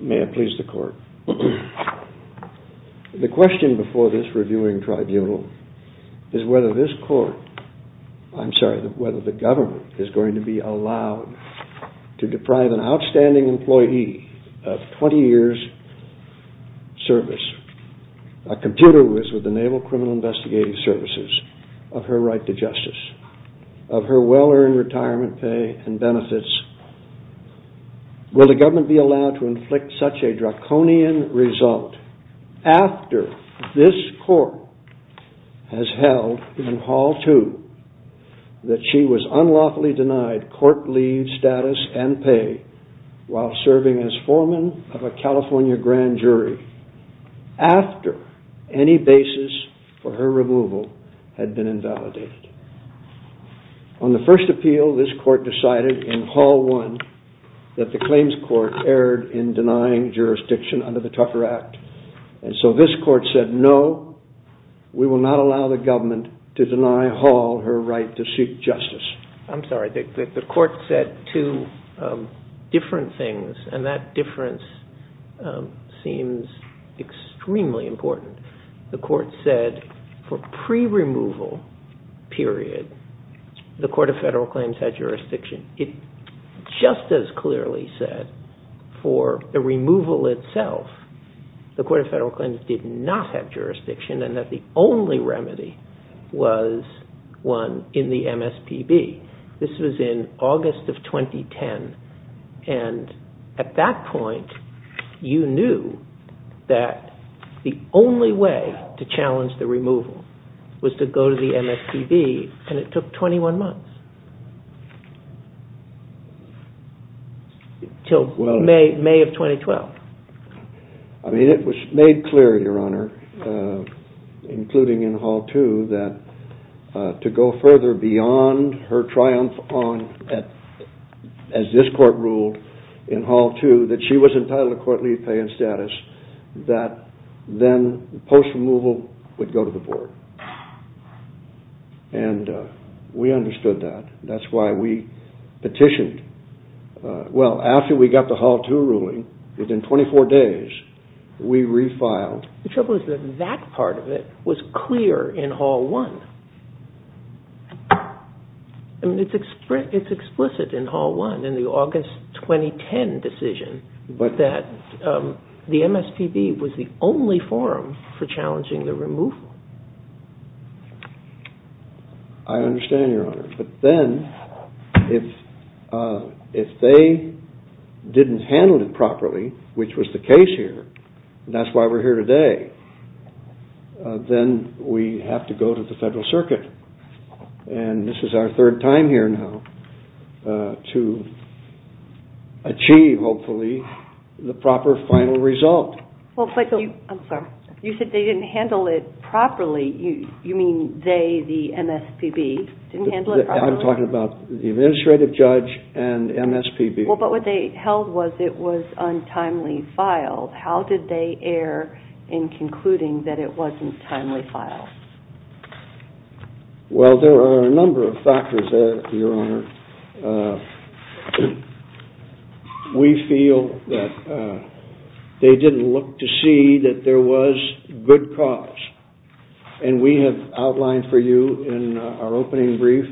May I please the court? The question before this reviewing tribunal is whether this court, I'm sorry, whether the government is going to be allowed to deprive an outstanding employee of 20 years service, a computer who is with the Naval Criminal Investigative Services, of her right to justice, of her well-earned retirement pay and benefits. Will the government be allowed to inflict such a draconian result after this court has held in Hall 2 that she was unlawfully denied court leave status and pay while serving as foreman of a California grand jury after any basis for her removal had been invalidated. On the first appeal, this court decided in Hall 1 that the claims court erred in denying jurisdiction under the Tucker Act and so this court said no, we will not allow the government to deny Hall her right to seek justice. I'm sorry, the court said two different things and that difference seems extremely important. The court said for pre-removal period, the Court of Federal Claims had jurisdiction. It just as clearly said for the removal itself, the Court of Federal Claims did not have jurisdiction and that the only remedy was one in the MSPB. This was in August of 2010 and at that point, you knew that the only way to challenge the removal was to go to the MSPB and it took 21 months. Until May of 2012. It was made clear, Your Honor, including in Hall 2 that to go further beyond her triumph as this court ruled in Hall 2 that she was entitled to court leave, pay, and status that then post-removal would go to the board and we understood that. That's why we petitioned. Well, after we got the Hall 2 ruling, within 24 days, we refiled. The trouble is that that part of it was clear in Hall 1. It's explicit in Hall 1 in the August 2010 decision that the MSPB was the only forum for challenging the removal. I understand, Your Honor, but then if they didn't handle it properly, which was the case here, that's why we're here today, then we have to go to the Federal Circuit and this is our third time here now to achieve, hopefully, the proper final result. You said they didn't handle it properly. You mean they, the MSPB, didn't handle it properly? I'm talking about the administrative judge and MSPB. But what they held was it was untimely filed. How did they err in concluding that it wasn't timely filed? Well, there are a number of factors there, Your Honor. We feel that they didn't look to see that there was good cause. And we have outlined for you in our opening brief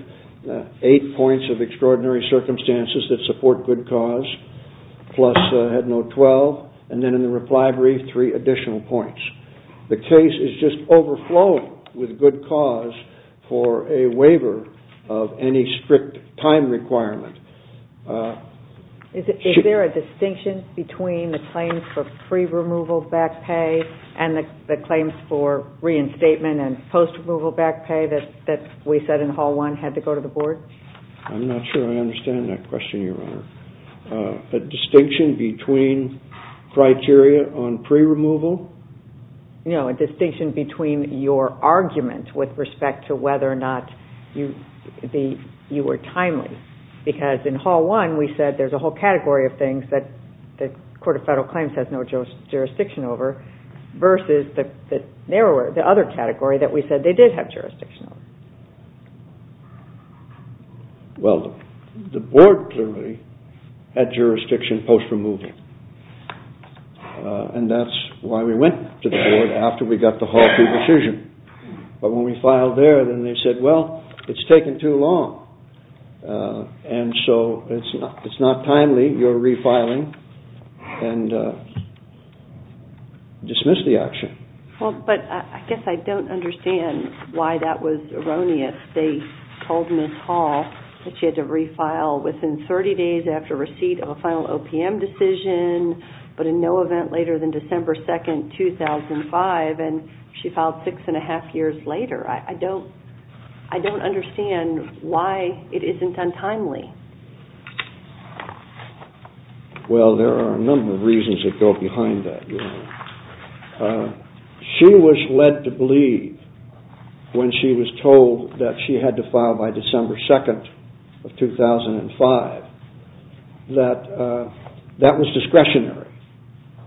eight points of extraordinary circumstances that support good cause, plus Head Note 12, and then in the reply brief, three additional points. The case is just overflowing with good cause for a waiver of any strict time requirement. Is there a distinction between the claims for pre-removal back pay and the claims for reinstatement and post-removal back pay that we said in Hall 1 had to go to the Board? I'm not sure I understand that question, Your Honor. A distinction between criteria on pre-removal? No, a distinction between your argument with respect to whether or not you were timely. Because in Hall 1, we said there's a whole category of things that the Court of Federal Claims has no jurisdiction over, versus the other category that we said they did have jurisdiction over. Well, the Board clearly had jurisdiction post-removal, and that's why we went to the Board after we got the Hall 2 decision. But when we filed there, then they said, well, it's taken too long, and so it's not timely. You're refiling, and dismiss the action. Well, but I guess I don't understand why that was erroneous. They told Ms. Hall that she had to refile within 30 days after receipt of a final OPM decision, but in no event later than December 2, 2005, and she filed six and a half years later. I don't understand why it isn't untimely. Well, there are a number of reasons that go behind that, Your Honor. She was led to believe when she was told that she had to file by December 2, 2005, that that was discretionary.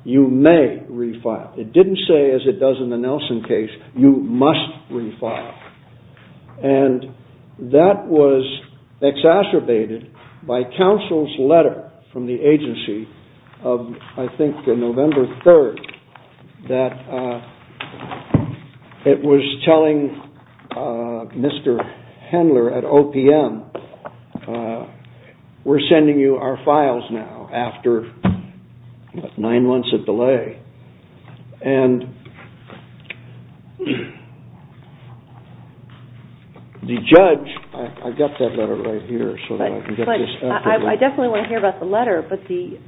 You may refile. It didn't say, as it does in the Nelson case, you must refile. And that was exacerbated by counsel's letter from the agency of, I think, November 3, that it was telling Mr. Hendler at OPM, we're sending you our files now after nine months of delay. And the judge, I've got that letter right here so that I can get this out to you. I definitely want to hear about the letter, but the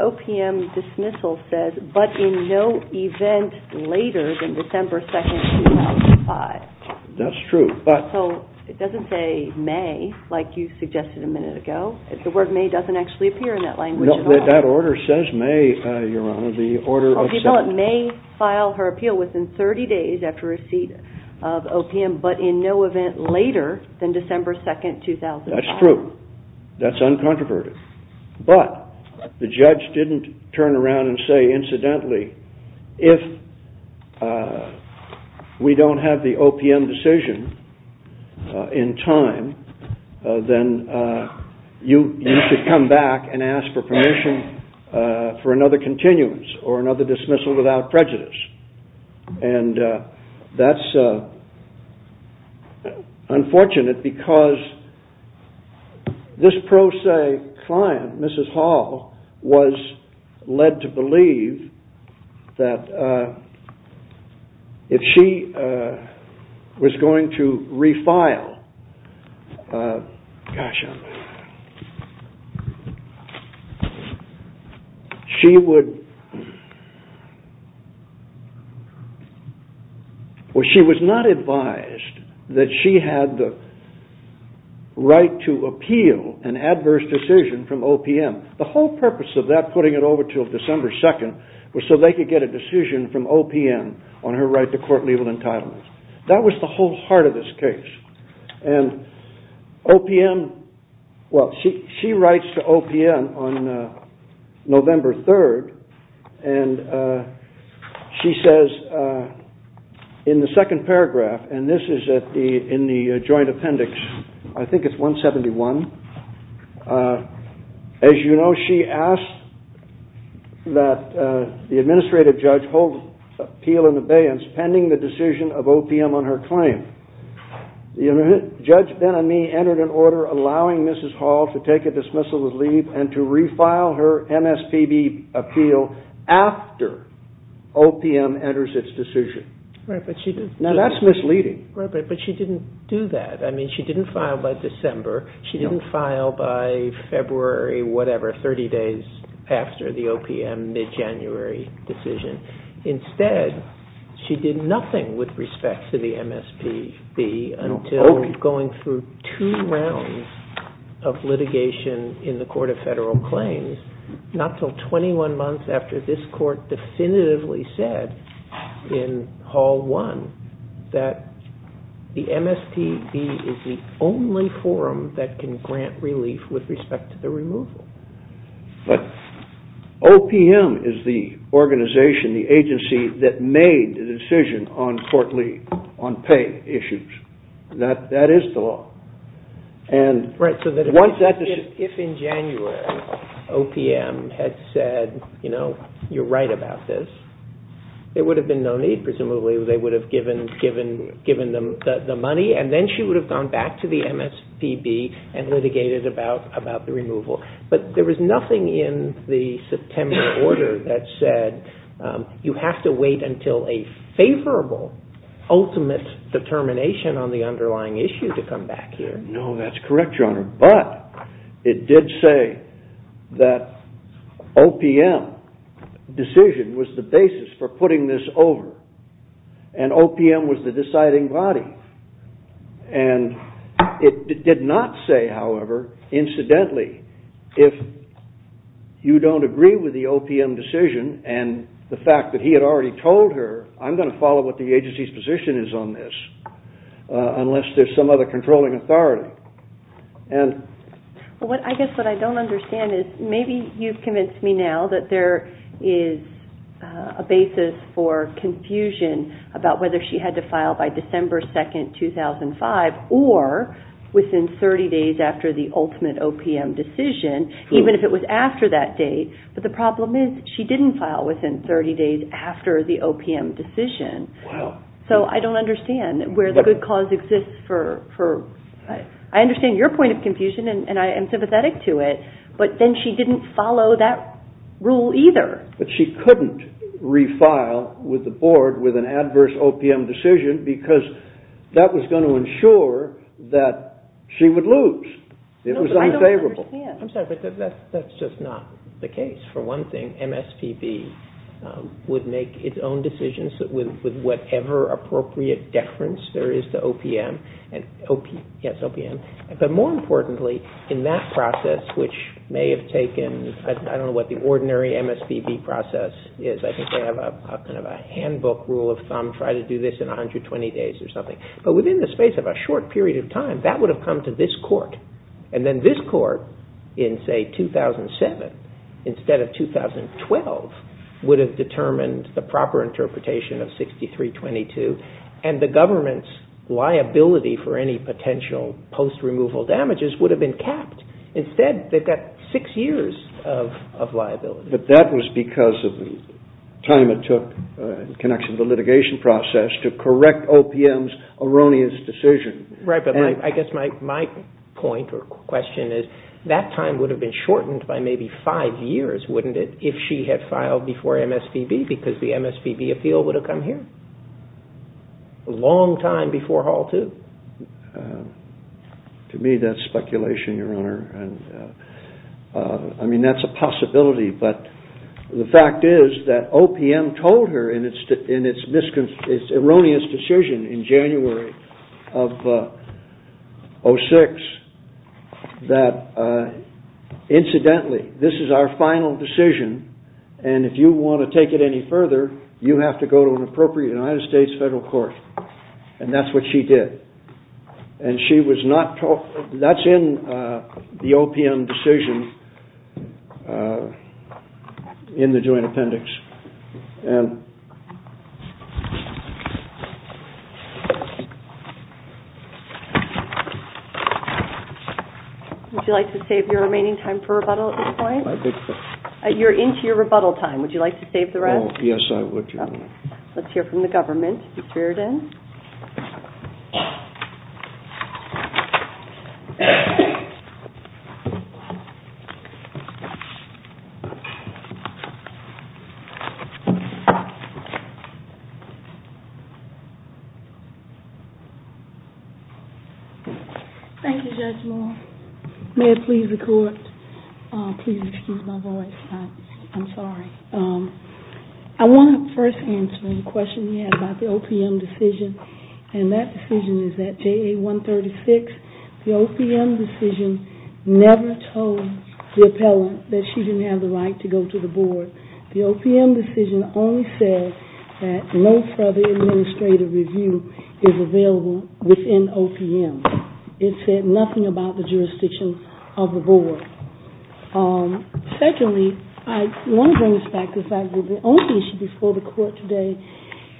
OPM dismissal says, but in no event later than December 2, 2005. That's true. So it doesn't say May, like you suggested a minute ago. The word May doesn't actually appear in that language at all. No, that order says May, Your Honor. People at May file her appeal within 30 days after receipt of OPM, but in no event later than December 2, 2005. That's true. That's uncontroverted. But the judge didn't turn around and say, incidentally, if we don't have the OPM decision in time, then you should come back and ask for permission for another continuance or another dismissal without prejudice. And that's unfortunate because this pro se client, Mrs. Hall, was led to believe that if she was going to refile, she was not advised that she had the right to appeal an adverse decision from OPM. The whole purpose of that, putting it over until December 2, was so they could get a decision from OPM on her right to court-legal entitlement. That was the whole heart of this case. And OPM, well, she writes to OPM on November 3rd, and she says in the second paragraph, and this is in the joint appendix, I think it's 171, as you know, she asked that the administrative judge hold appeal and abeyance pending the decision of OPM on her claim. The judge then on me entered an order allowing Mrs. Hall to take a dismissal to leave and to refile her MSPB appeal after OPM enters its decision. Now, that's misleading. But she didn't do that. I mean, she didn't file by December. She didn't file by February, whatever, 30 days after the OPM mid-January decision. Instead, she did nothing with respect to the MSPB until going through two rounds of litigation in the Court of Federal Claims, not until 21 months after this court definitively said in Hall 1 that the MSPB is the only forum that can grant relief with respect to the removal. But OPM is the organization, the agency, that made the decision on court leave, on pay issues. That is the law. Right, so if in January OPM had said, you know, you're right about this, there would have been no need, presumably they would have given them the money, and then she would have gone back to the MSPB and litigated about the removal. But there was nothing in the September order that said you have to wait until a favorable, ultimate determination on the underlying issue to come back here. No, that's correct, Your Honor. But it did say that OPM decision was the basis for putting this over, and OPM was the deciding body. And it did not say, however, incidentally, if you don't agree with the OPM decision, and the fact that he had already told her, I'm going to follow what the agency's position is on this, unless there's some other controlling authority. Well, I guess what I don't understand is maybe you've convinced me now that there is a basis for confusion about whether she had to file by December 2, 2005, or within 30 days after the ultimate OPM decision, even if it was after that date. But the problem is she didn't file within 30 days after the OPM decision. Wow. So I don't understand where the good cause exists for... I understand your point of confusion, and I am sympathetic to it, but then she didn't follow that rule either. But she couldn't refile with the board with an adverse OPM decision because that was going to ensure that she would lose. It was unfavorable. No, but I don't understand. I'm sorry, but that's just not the case. For one thing, MSPB would make its own decisions with whatever appropriate deference there is to OPM. Yes, OPM. But more importantly, in that process, which may have taken... I don't know what the ordinary MSPB process is. I think they have kind of a handbook rule of thumb, try to do this in 120 days or something. But within the space of a short period of time, that would have come to this court, and then this court in, say, 2007 instead of 2012 would have determined the proper interpretation of 6322, and the government's liability for any potential post-removal damages would have been capped. Instead, they've got six years of liability. But that was because of the time it took in connection to the litigation process to correct OPM's erroneous decision. Right, but I guess my point or question is that time would have been shortened by maybe five years, wouldn't it, if she had filed before MSPB because the MSPB appeal would have come here. A long time before Hall 2. To me, that's speculation, Your Honor. I mean, that's a possibility, but the fact is that OPM told her in its erroneous decision in January of 2006 that, incidentally, this is our final decision, and if you want to take it any further, you have to go to an appropriate United States federal court. And that's what she did. That's in the OPM decision in the joint appendix. Would you like to save your remaining time for rebuttal at this point? You're into your rebuttal time. Would you like to save the rest? Yes, I would, Your Honor. Let's hear from the government. Mr. Erdin. Thank you, Judge Moore. May I please record? Please excuse my voice. I'm sorry. I want to first answer the question you had about the OPM decision, and that decision is that JA 136, the OPM decision never told the appellant that she didn't have the right to go to the board. The OPM decision only said that no further administrative review is available within OPM. It said nothing about the jurisdiction of the board. Secondly, I want to bring this back to the fact that the only issue before the court today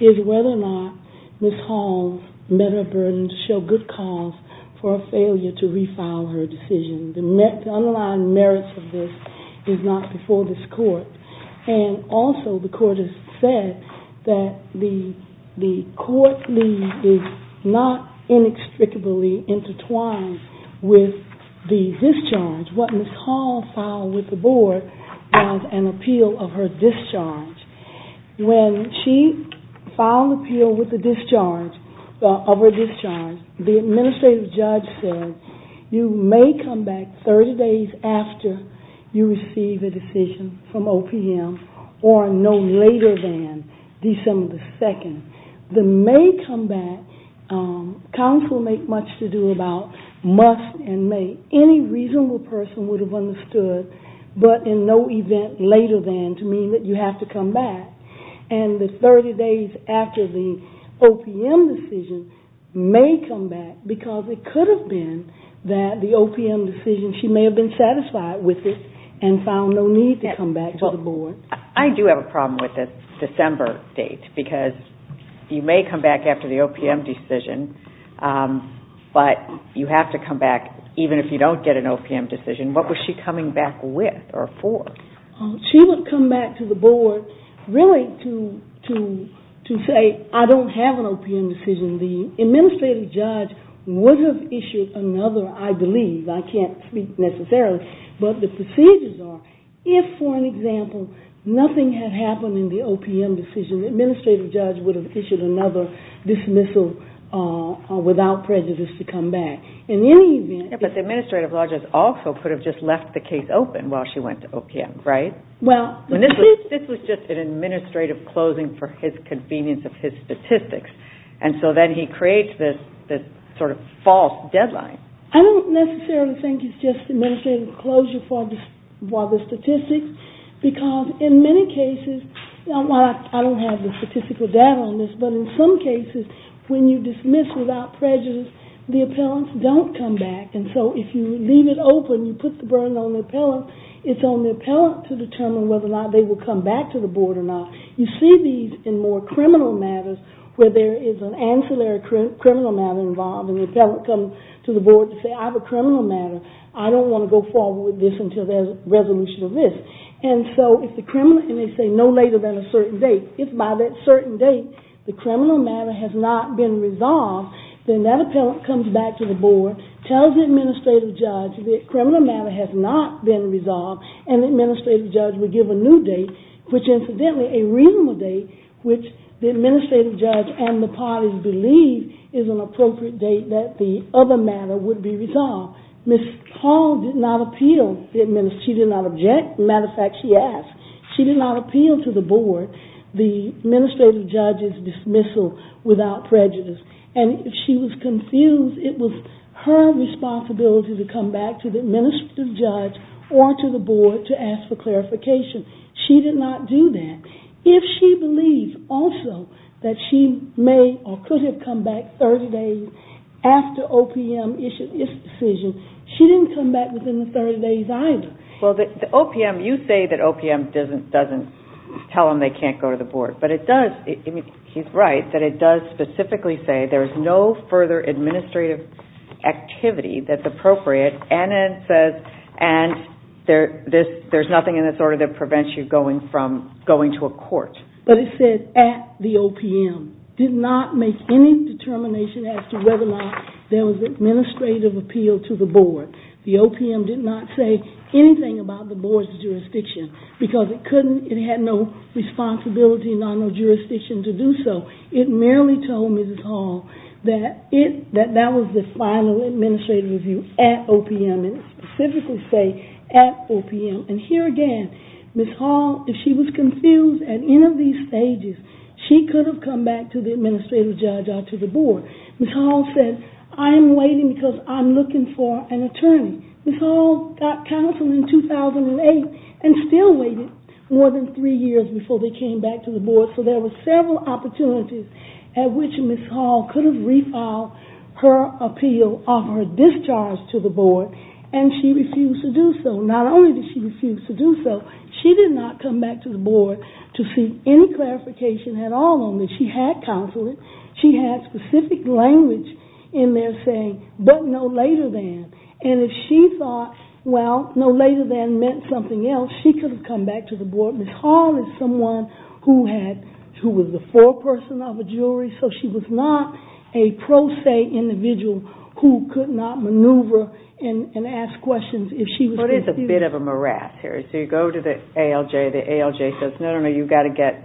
is whether or not Ms. Holmes met her burden, showed good cause for a failure to refile her decision. The underlying merits of this is not before this court. And also the court has said that the court is not inextricably intertwined with the discharge, what Ms. Holmes filed with the board was an appeal of her discharge. When she filed an appeal with the discharge, of her discharge, the administrative judge said you may come back 30 days after you receive a decision from OPM or no later than December 2nd. The may come back, counsel make much to do about must and may. Any reasonable person would have understood but in no event later than to mean that you have to come back. And the 30 days after the OPM decision may come back because it could have been that the OPM decision, she may have been satisfied with it and found no need to come back to the board. I do have a problem with the December date because you may come back after the OPM decision but you have to come back even if you don't get an OPM decision. What was she coming back with or for? She would come back to the board really to say I don't have an OPM decision. The administrative judge would have issued another, I believe, I can't speak necessarily, but the procedures are if for an example nothing had happened in the OPM decision, the administrative judge would have issued another dismissal without prejudice to come back. In any event... But the administrative judge also could have just left the case open while she went to OPM, right? This was just an administrative closing for his convenience of his statistics. And so then he creates this sort of false deadline. I don't necessarily think it's just administrative closure for the statistics because in many cases, I don't have the statistical data on this, but in some cases when you dismiss without prejudice the appellants don't come back and so if you leave it open, you put the burden on the appellant, it's on the appellant to determine whether or not they will come back to the board or not. You see these in more criminal matters where there is an ancillary criminal matter involved and the appellant comes to the board to say I have a criminal matter. I don't want to go forward with this until there's a resolution of this. And so if the criminal... And they say no later than a certain date. If by that certain date, the criminal matter has not been resolved, then that appellant comes back to the board, tells the administrative judge that criminal matter has not been resolved and the administrative judge would give a new date, which incidentally, a reasonable date, which the administrative judge and the parties believe is an appropriate date that the other matter would be resolved. Ms. Hall did not appeal. She did not object. As a matter of fact, she asked. She did not appeal to the board. The administrative judge's dismissal without prejudice. And if she was confused, it was her responsibility to come back to the administrative judge or to the board to ask for clarification. She did not do that. If she believes also that she may or could have come back 30 days after OPM issued its decision, she didn't come back within the 30 days either. Well, the OPM... You say that OPM doesn't tell them they can't go to the board, but it does... I mean, he's right, that it does specifically say there's no further administrative activity that's appropriate and it says there's nothing in this order that prevents you going to a court. But it said at the OPM. Did not make any determination as to whether or not there was administrative appeal to the board. The OPM did not say anything about the board's jurisdiction because it had no responsibility, not no jurisdiction to do so. It merely told Mrs. Hall that that was the final administrative review at OPM and specifically say at OPM. And here again, Mrs. Hall, if she was confused at any of these stages, she could have come back to the administrative judge or to the board. Mrs. Hall said, I'm waiting because I'm looking for an attorney. Mrs. Hall got counsel in 2008 and still waited more than three years before they came back to the board. So there were several opportunities at which Mrs. Hall could have refiled her appeal of her discharge to the board and she refused to do so. Not only did she refuse to do so, she did not come back to the board to seek any clarification at all on this. She had counsel. But no later than. And if she thought, well, no later than meant something else, she could have come back to the board. Mrs. Hall is someone who was the foreperson of a jury, so she was not a pro se individual who could not maneuver and ask questions if she was confused. But it's a bit of a morass here. So you go to the ALJ. The ALJ says, no, no, no, you've got to get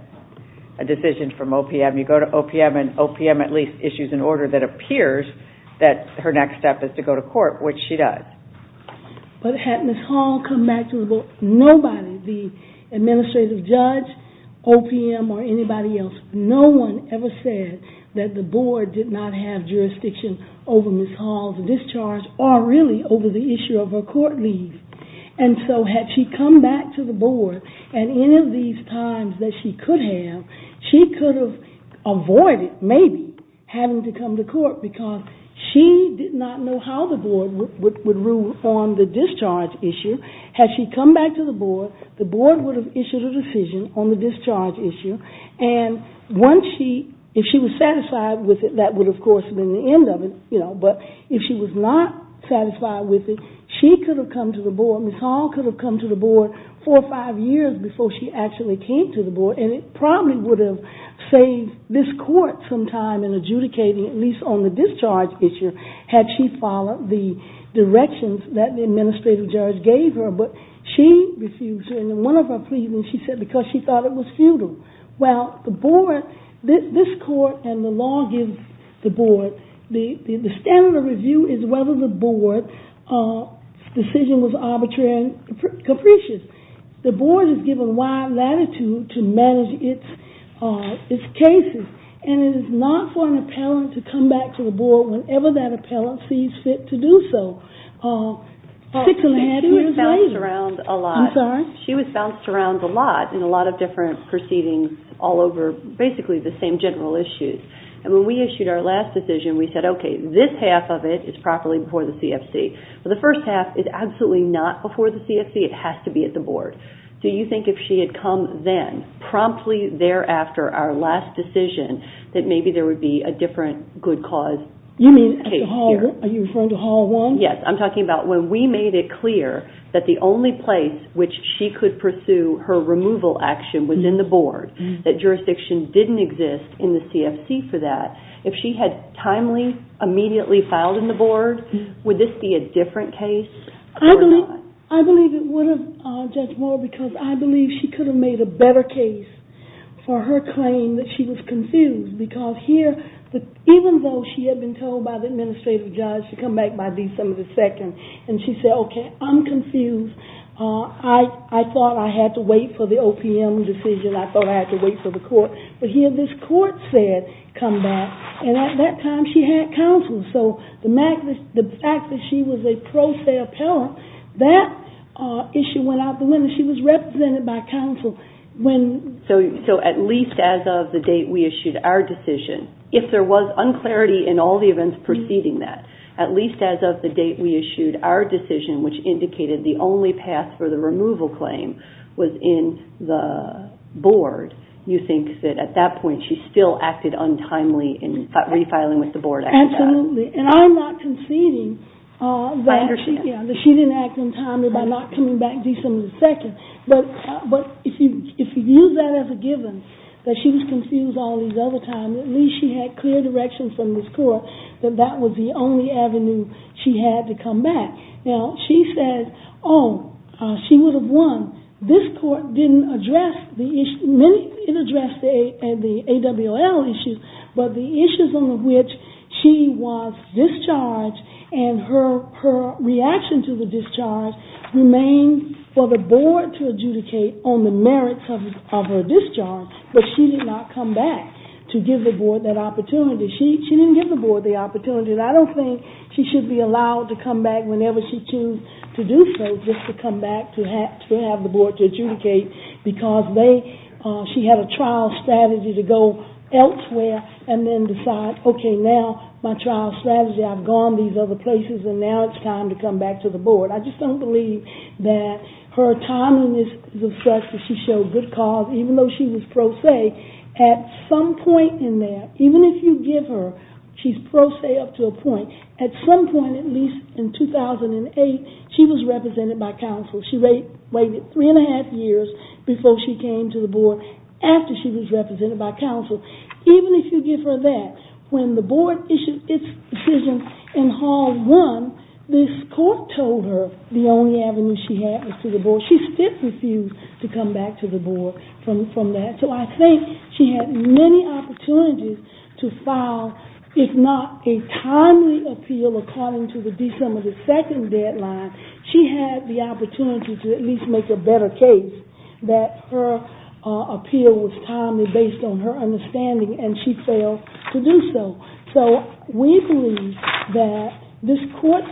a decision from OPM. You go to OPM and OPM at least issues an order that appears that her next step is to go to court, which she does. But had Mrs. Hall come back to the board, nobody, the administrative judge, OPM, or anybody else, no one ever said that the board did not have jurisdiction over Mrs. Hall's discharge or really over the issue of her court leave. And so had she come back to the board at any of these times that she could have, she could have avoided maybe having to come to court because she did not know how the board would rule on the discharge issue. Had she come back to the board, the board would have issued a decision on the discharge issue. And if she was satisfied with it, that would, of course, have been the end of it. But if she was not satisfied with it, she could have come to the board, Mrs. Hall could have come to the board four or five years before she actually came to the board, and it probably would have saved this court some time in adjudicating, at least on the discharge issue, had she followed the directions that the administrative judge gave her. But she refused, and in one of her pleadings she said because she thought it was futile. Well, the board, this court and the law gives the board, the standard of review is whether the board's decision was arbitrary and capricious. The board is given wide latitude to manage its cases, and it is not for an appellant to come back to the board whenever that appellant sees fit to do so. Six and a half years later. She was bounced around a lot. I'm sorry? She was bounced around a lot in a lot of different proceedings all over basically the same general issues. And when we issued our last decision, we said, okay, this half of it is properly before the CFC. Well, the first half is absolutely not before the CFC. It has to be at the board. Do you think if she had come then, promptly thereafter our last decision, that maybe there would be a different good cause case here? You mean at the Hall 1? Are you referring to Hall 1? Yes, I'm talking about when we made it clear that the only place which she could pursue her removal action was in the board, that jurisdiction didn't exist in the CFC for that. If she had timely, immediately filed in the board, would this be a different case or not? I believe it would have, Judge Moore, because I believe she could have made a better case for her claim that she was confused. Because here, even though she had been told by the administrative judge to come back by December 2nd, and she said, okay, I'm confused. I thought I had to wait for the OPM decision. I thought I had to wait for the court. But here this court said, come back. And at that time, she had counsel. So the fact that she was a pro se appellant, that issue went out the window. She was represented by counsel. So at least as of the date we issued our decision, if there was unclarity in all the events preceding that, at least as of the date we issued our decision, which indicated the only path for the removal claim was in the board, you think that at that point she still acted untimely in refiling with the board? Absolutely. And I'm not conceding that she didn't act untimely by not coming back December 2nd. But if you use that as a given, that she was confused all these other times, at least she had clear direction from this court that that was the only avenue she had to come back. Now, she said, oh, she would have won. This court didn't address the issue. It addressed the AWOL issues, but the issues on which she was discharged and her reaction to the discharge remained for the board to adjudicate on the merits of her discharge. But she did not come back to give the board that opportunity. She didn't give the board the opportunity. And I don't think she should be allowed to come back whenever she chooses to do so, just to come back to have the board to adjudicate. Because she had a trial strategy to go elsewhere and then decide, OK, now my trial strategy, I've gone these other places, and now it's time to come back to the board. I just don't believe that her timing is such that she showed good cause, even though she was pro se. At some point in there, even if you give her she's pro se up to a point, at some point, at least in 2008, she was represented by counsel. She waited three and a half years before she came to the board, after she was represented by counsel. Even if you give her that, when the board issued its decision in Hall 1, this court told her the only avenue she had was to the board. She still refused to come back to the board from that. So I think she had many opportunities to file, if not a timely appeal according to the December 2 deadline, she had the opportunity to at least make a better case that her appeal was based on her understanding, and she failed to do so. So we believe that this court,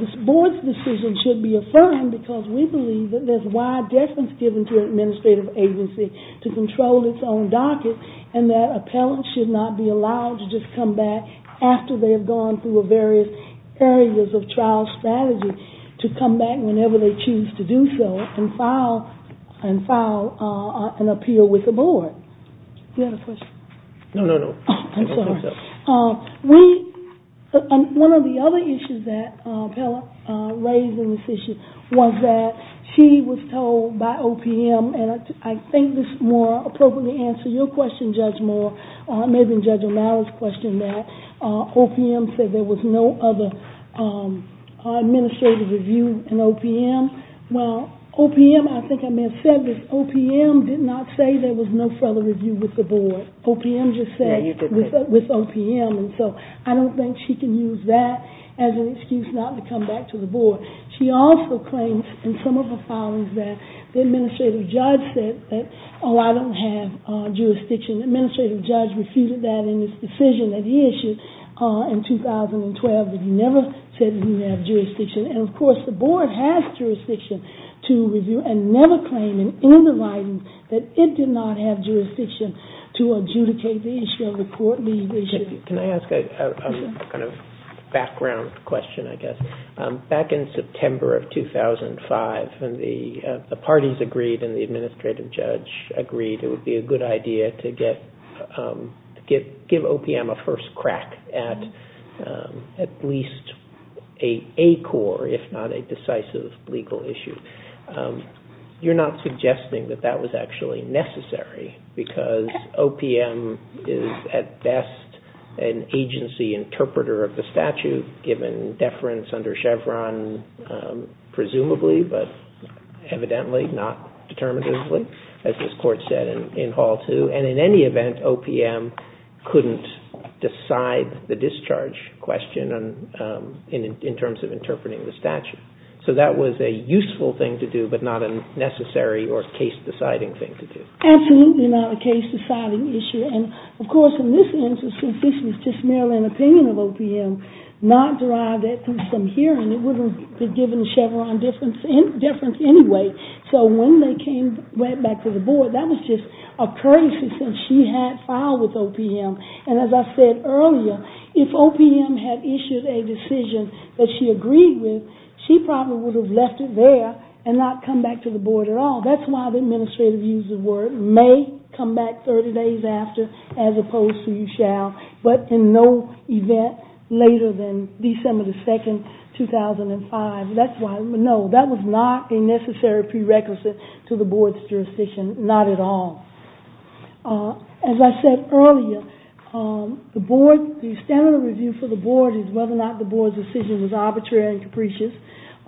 this board's decision should be affirmed because we believe that there's wide deference given to an administrative agency to control its own docket, and that appellants should not be allowed to just come back after they have gone through various areas of trial strategy to come back whenever they choose to do so and file an appeal with the board. Do you have a question? No, no, no. I don't think so. One of the other issues that Pella raised in this issue was that she was told by OPM, and I think this more appropriately answers your question, Judge Moore, maybe in Judge O'Malley's question, that OPM said there was no other administrative review in OPM. Well, OPM, I think I may have said this, OPM did not say there was no further review with the board. OPM just said with OPM, and so I don't think she can use that as an excuse not to come back to the board. She also claimed in some of her filings that the administrative judge said, oh, I don't have jurisdiction. The administrative judge refuted that in his decision that he issued in 2012 that he never said he didn't have jurisdiction. And of course, the board has jurisdiction to review and never claim in the writing that it did not have jurisdiction to adjudicate the issue of the court leadership. Can I ask a kind of background question, I guess? Back in September of 2005, when the parties agreed and the administrative judge agreed it would be a good idea to give OPM a first crack at at least a core, if not a decisive legal issue, you're not suggesting that that was actually necessary because OPM is at best an agency interpreter of the statute, given deference under Chevron, presumably, but evidently not determinatively, as this court said in Hall 2. And in any event, OPM couldn't decide the discharge question in terms of interpreting the statute. So that was a useful thing to do, but not a necessary or case-deciding thing to do. Absolutely not a case-deciding issue. And of course, in this instance, this is just merely an opinion of OPM, not derived from some hearing. It wouldn't have been given a Chevron deference anyway. So when they came right back to the board, that was just a courtesy since she had filed with OPM. And as I said earlier, if OPM had issued a decision that she agreed with, she probably would have left it there and not come back to the board at all. That's why the administrative use of the word may come back 30 days after, as opposed to you shall, but in no event later than December 2, 2005. No, that was not a necessary prerequisite to the board's jurisdiction, not at all. As I said earlier, the standard review for the board is whether or not the board's decision was arbitrary and capricious,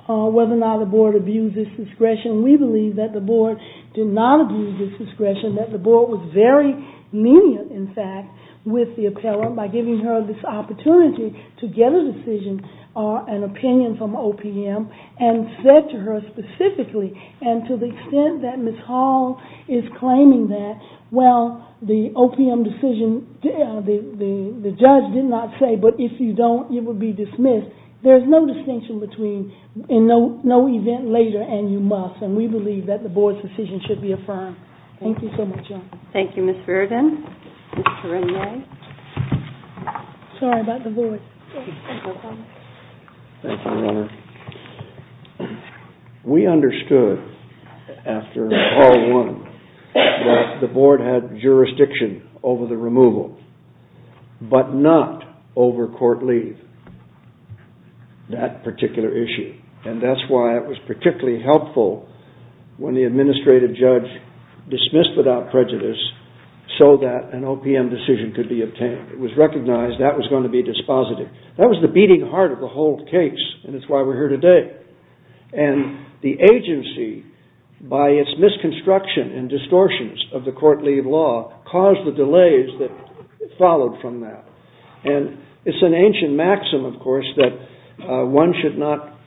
whether or not the board abused its discretion. We believe that the board did not abuse its discretion, that the board was very lenient, in fact, with the appellant by giving her this opportunity to get a decision or an opinion from OPM and said to her specifically and to the extent that Ms. Hall is claiming that, well, the OPM decision, the judge did not say, but if you don't, you will be dismissed. There's no distinction between in no event later and you must, and we believe that the board's decision should be affirmed. Thank you so much. Thank you, Ms. Verden. Sorry about the voice. It's okay. Thank you, Your Honor. We understood after all one that the board had jurisdiction over the removal, but not over court leave, that particular issue. And that's why it was particularly helpful when the administrative judge dismissed without prejudice so that an OPM decision could be obtained. It was recognized that was going to be dispositive. That was the beating heart of the whole case and it's why we're here today. And the agency, by its misconstruction and distortions of the court leave law, caused the delays that followed from that. And it's an ancient maxim, of course, that one should not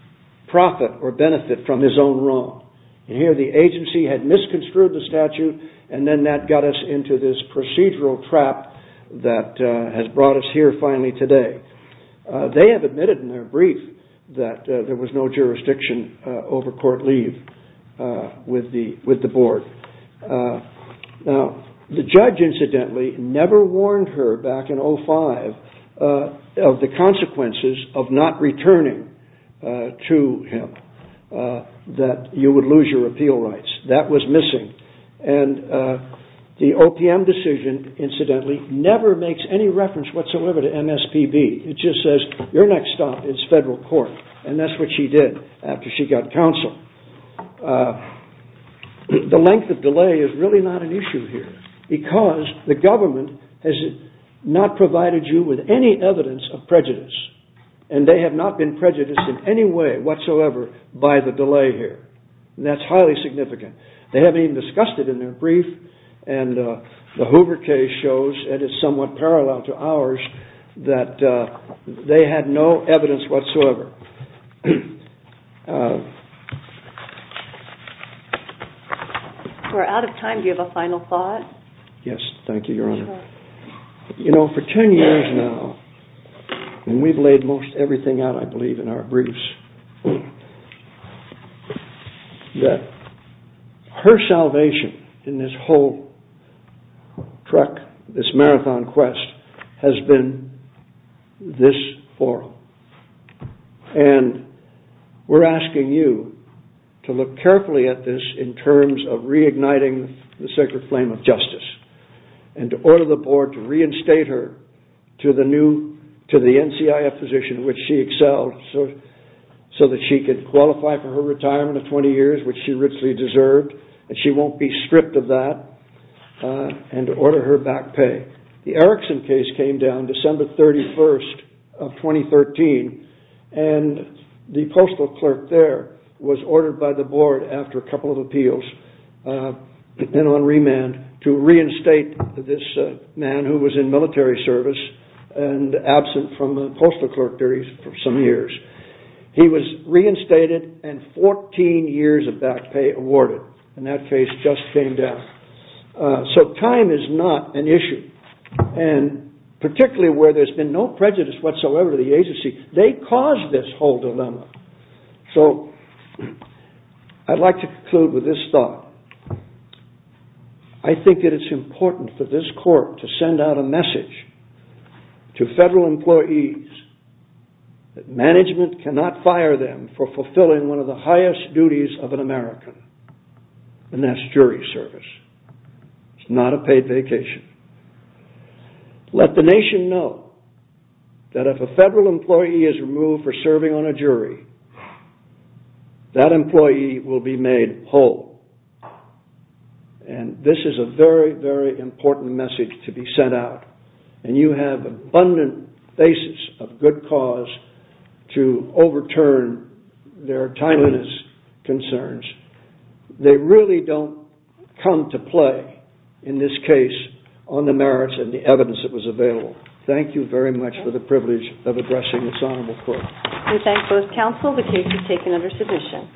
profit or benefit from his own wrong. Here the agency had misconstrued the statute and then that got us into this procedural trap that has brought us here finally today. They have admitted in their brief that there was no jurisdiction over court leave with the board. Now, the judge, incidentally, never warned her back in 05 of the consequences of not returning to him that you would lose your appeal rights. That was missing. And the OPM decision, incidentally, never makes any reference whatsoever to MSPB. It just says, your next stop is federal court. And that's what she did after she got counsel. The length of delay is really not an issue here because the government has not provided you with any evidence of prejudice and they have not been prejudiced in any way whatsoever by the delay here. That's highly significant. They have even discussed it in their brief and the Hoover case shows and it's somewhat parallel to ours that they had no evidence whatsoever. We're out of time. Do you have a final thought? Yes, thank you, Your Honor. You know, for 10 years now, and we've laid most everything out, I believe, in our briefs, that her salvation in this whole trek, this marathon quest has been this oral. And we're asking you to look carefully at this in terms of reigniting the sacred flame of justice and to order the board to reinstate her to the new, to the NCIF position which she excelled so that she could qualify for her retirement of 20 years which she richly deserved and she won't be stripped of that and to order her back pay. The Erickson case came down December 31st of 2013 and the postal clerk there was ordered by the board after a couple of appeals and then on remand to reinstate this man who was in military service and absent from the postal clerk duties for some years. He was reinstated and 14 years of back pay awarded and that case just came down. So time is not an issue and particularly where there's been no prejudice whatsoever to the agency they caused this whole dilemma. So I'd like to conclude with this thought. I think that it's important for this court to send out a message to federal employees that management cannot fire them for fulfilling one of the highest duties of an American and that's jury service. It's not a paid vacation. Let the nation know that if a federal employee is removed for serving on a jury that employee will be made whole and this is a very, very important message to be sent out and you have abundant bases of good cause to overturn their timeliness concerns. They really don't come to play in this case on the merits and the evidence that was available. Thank you very much for the privilege of addressing this honorable court. We thank both counsel. The case is taken under submission.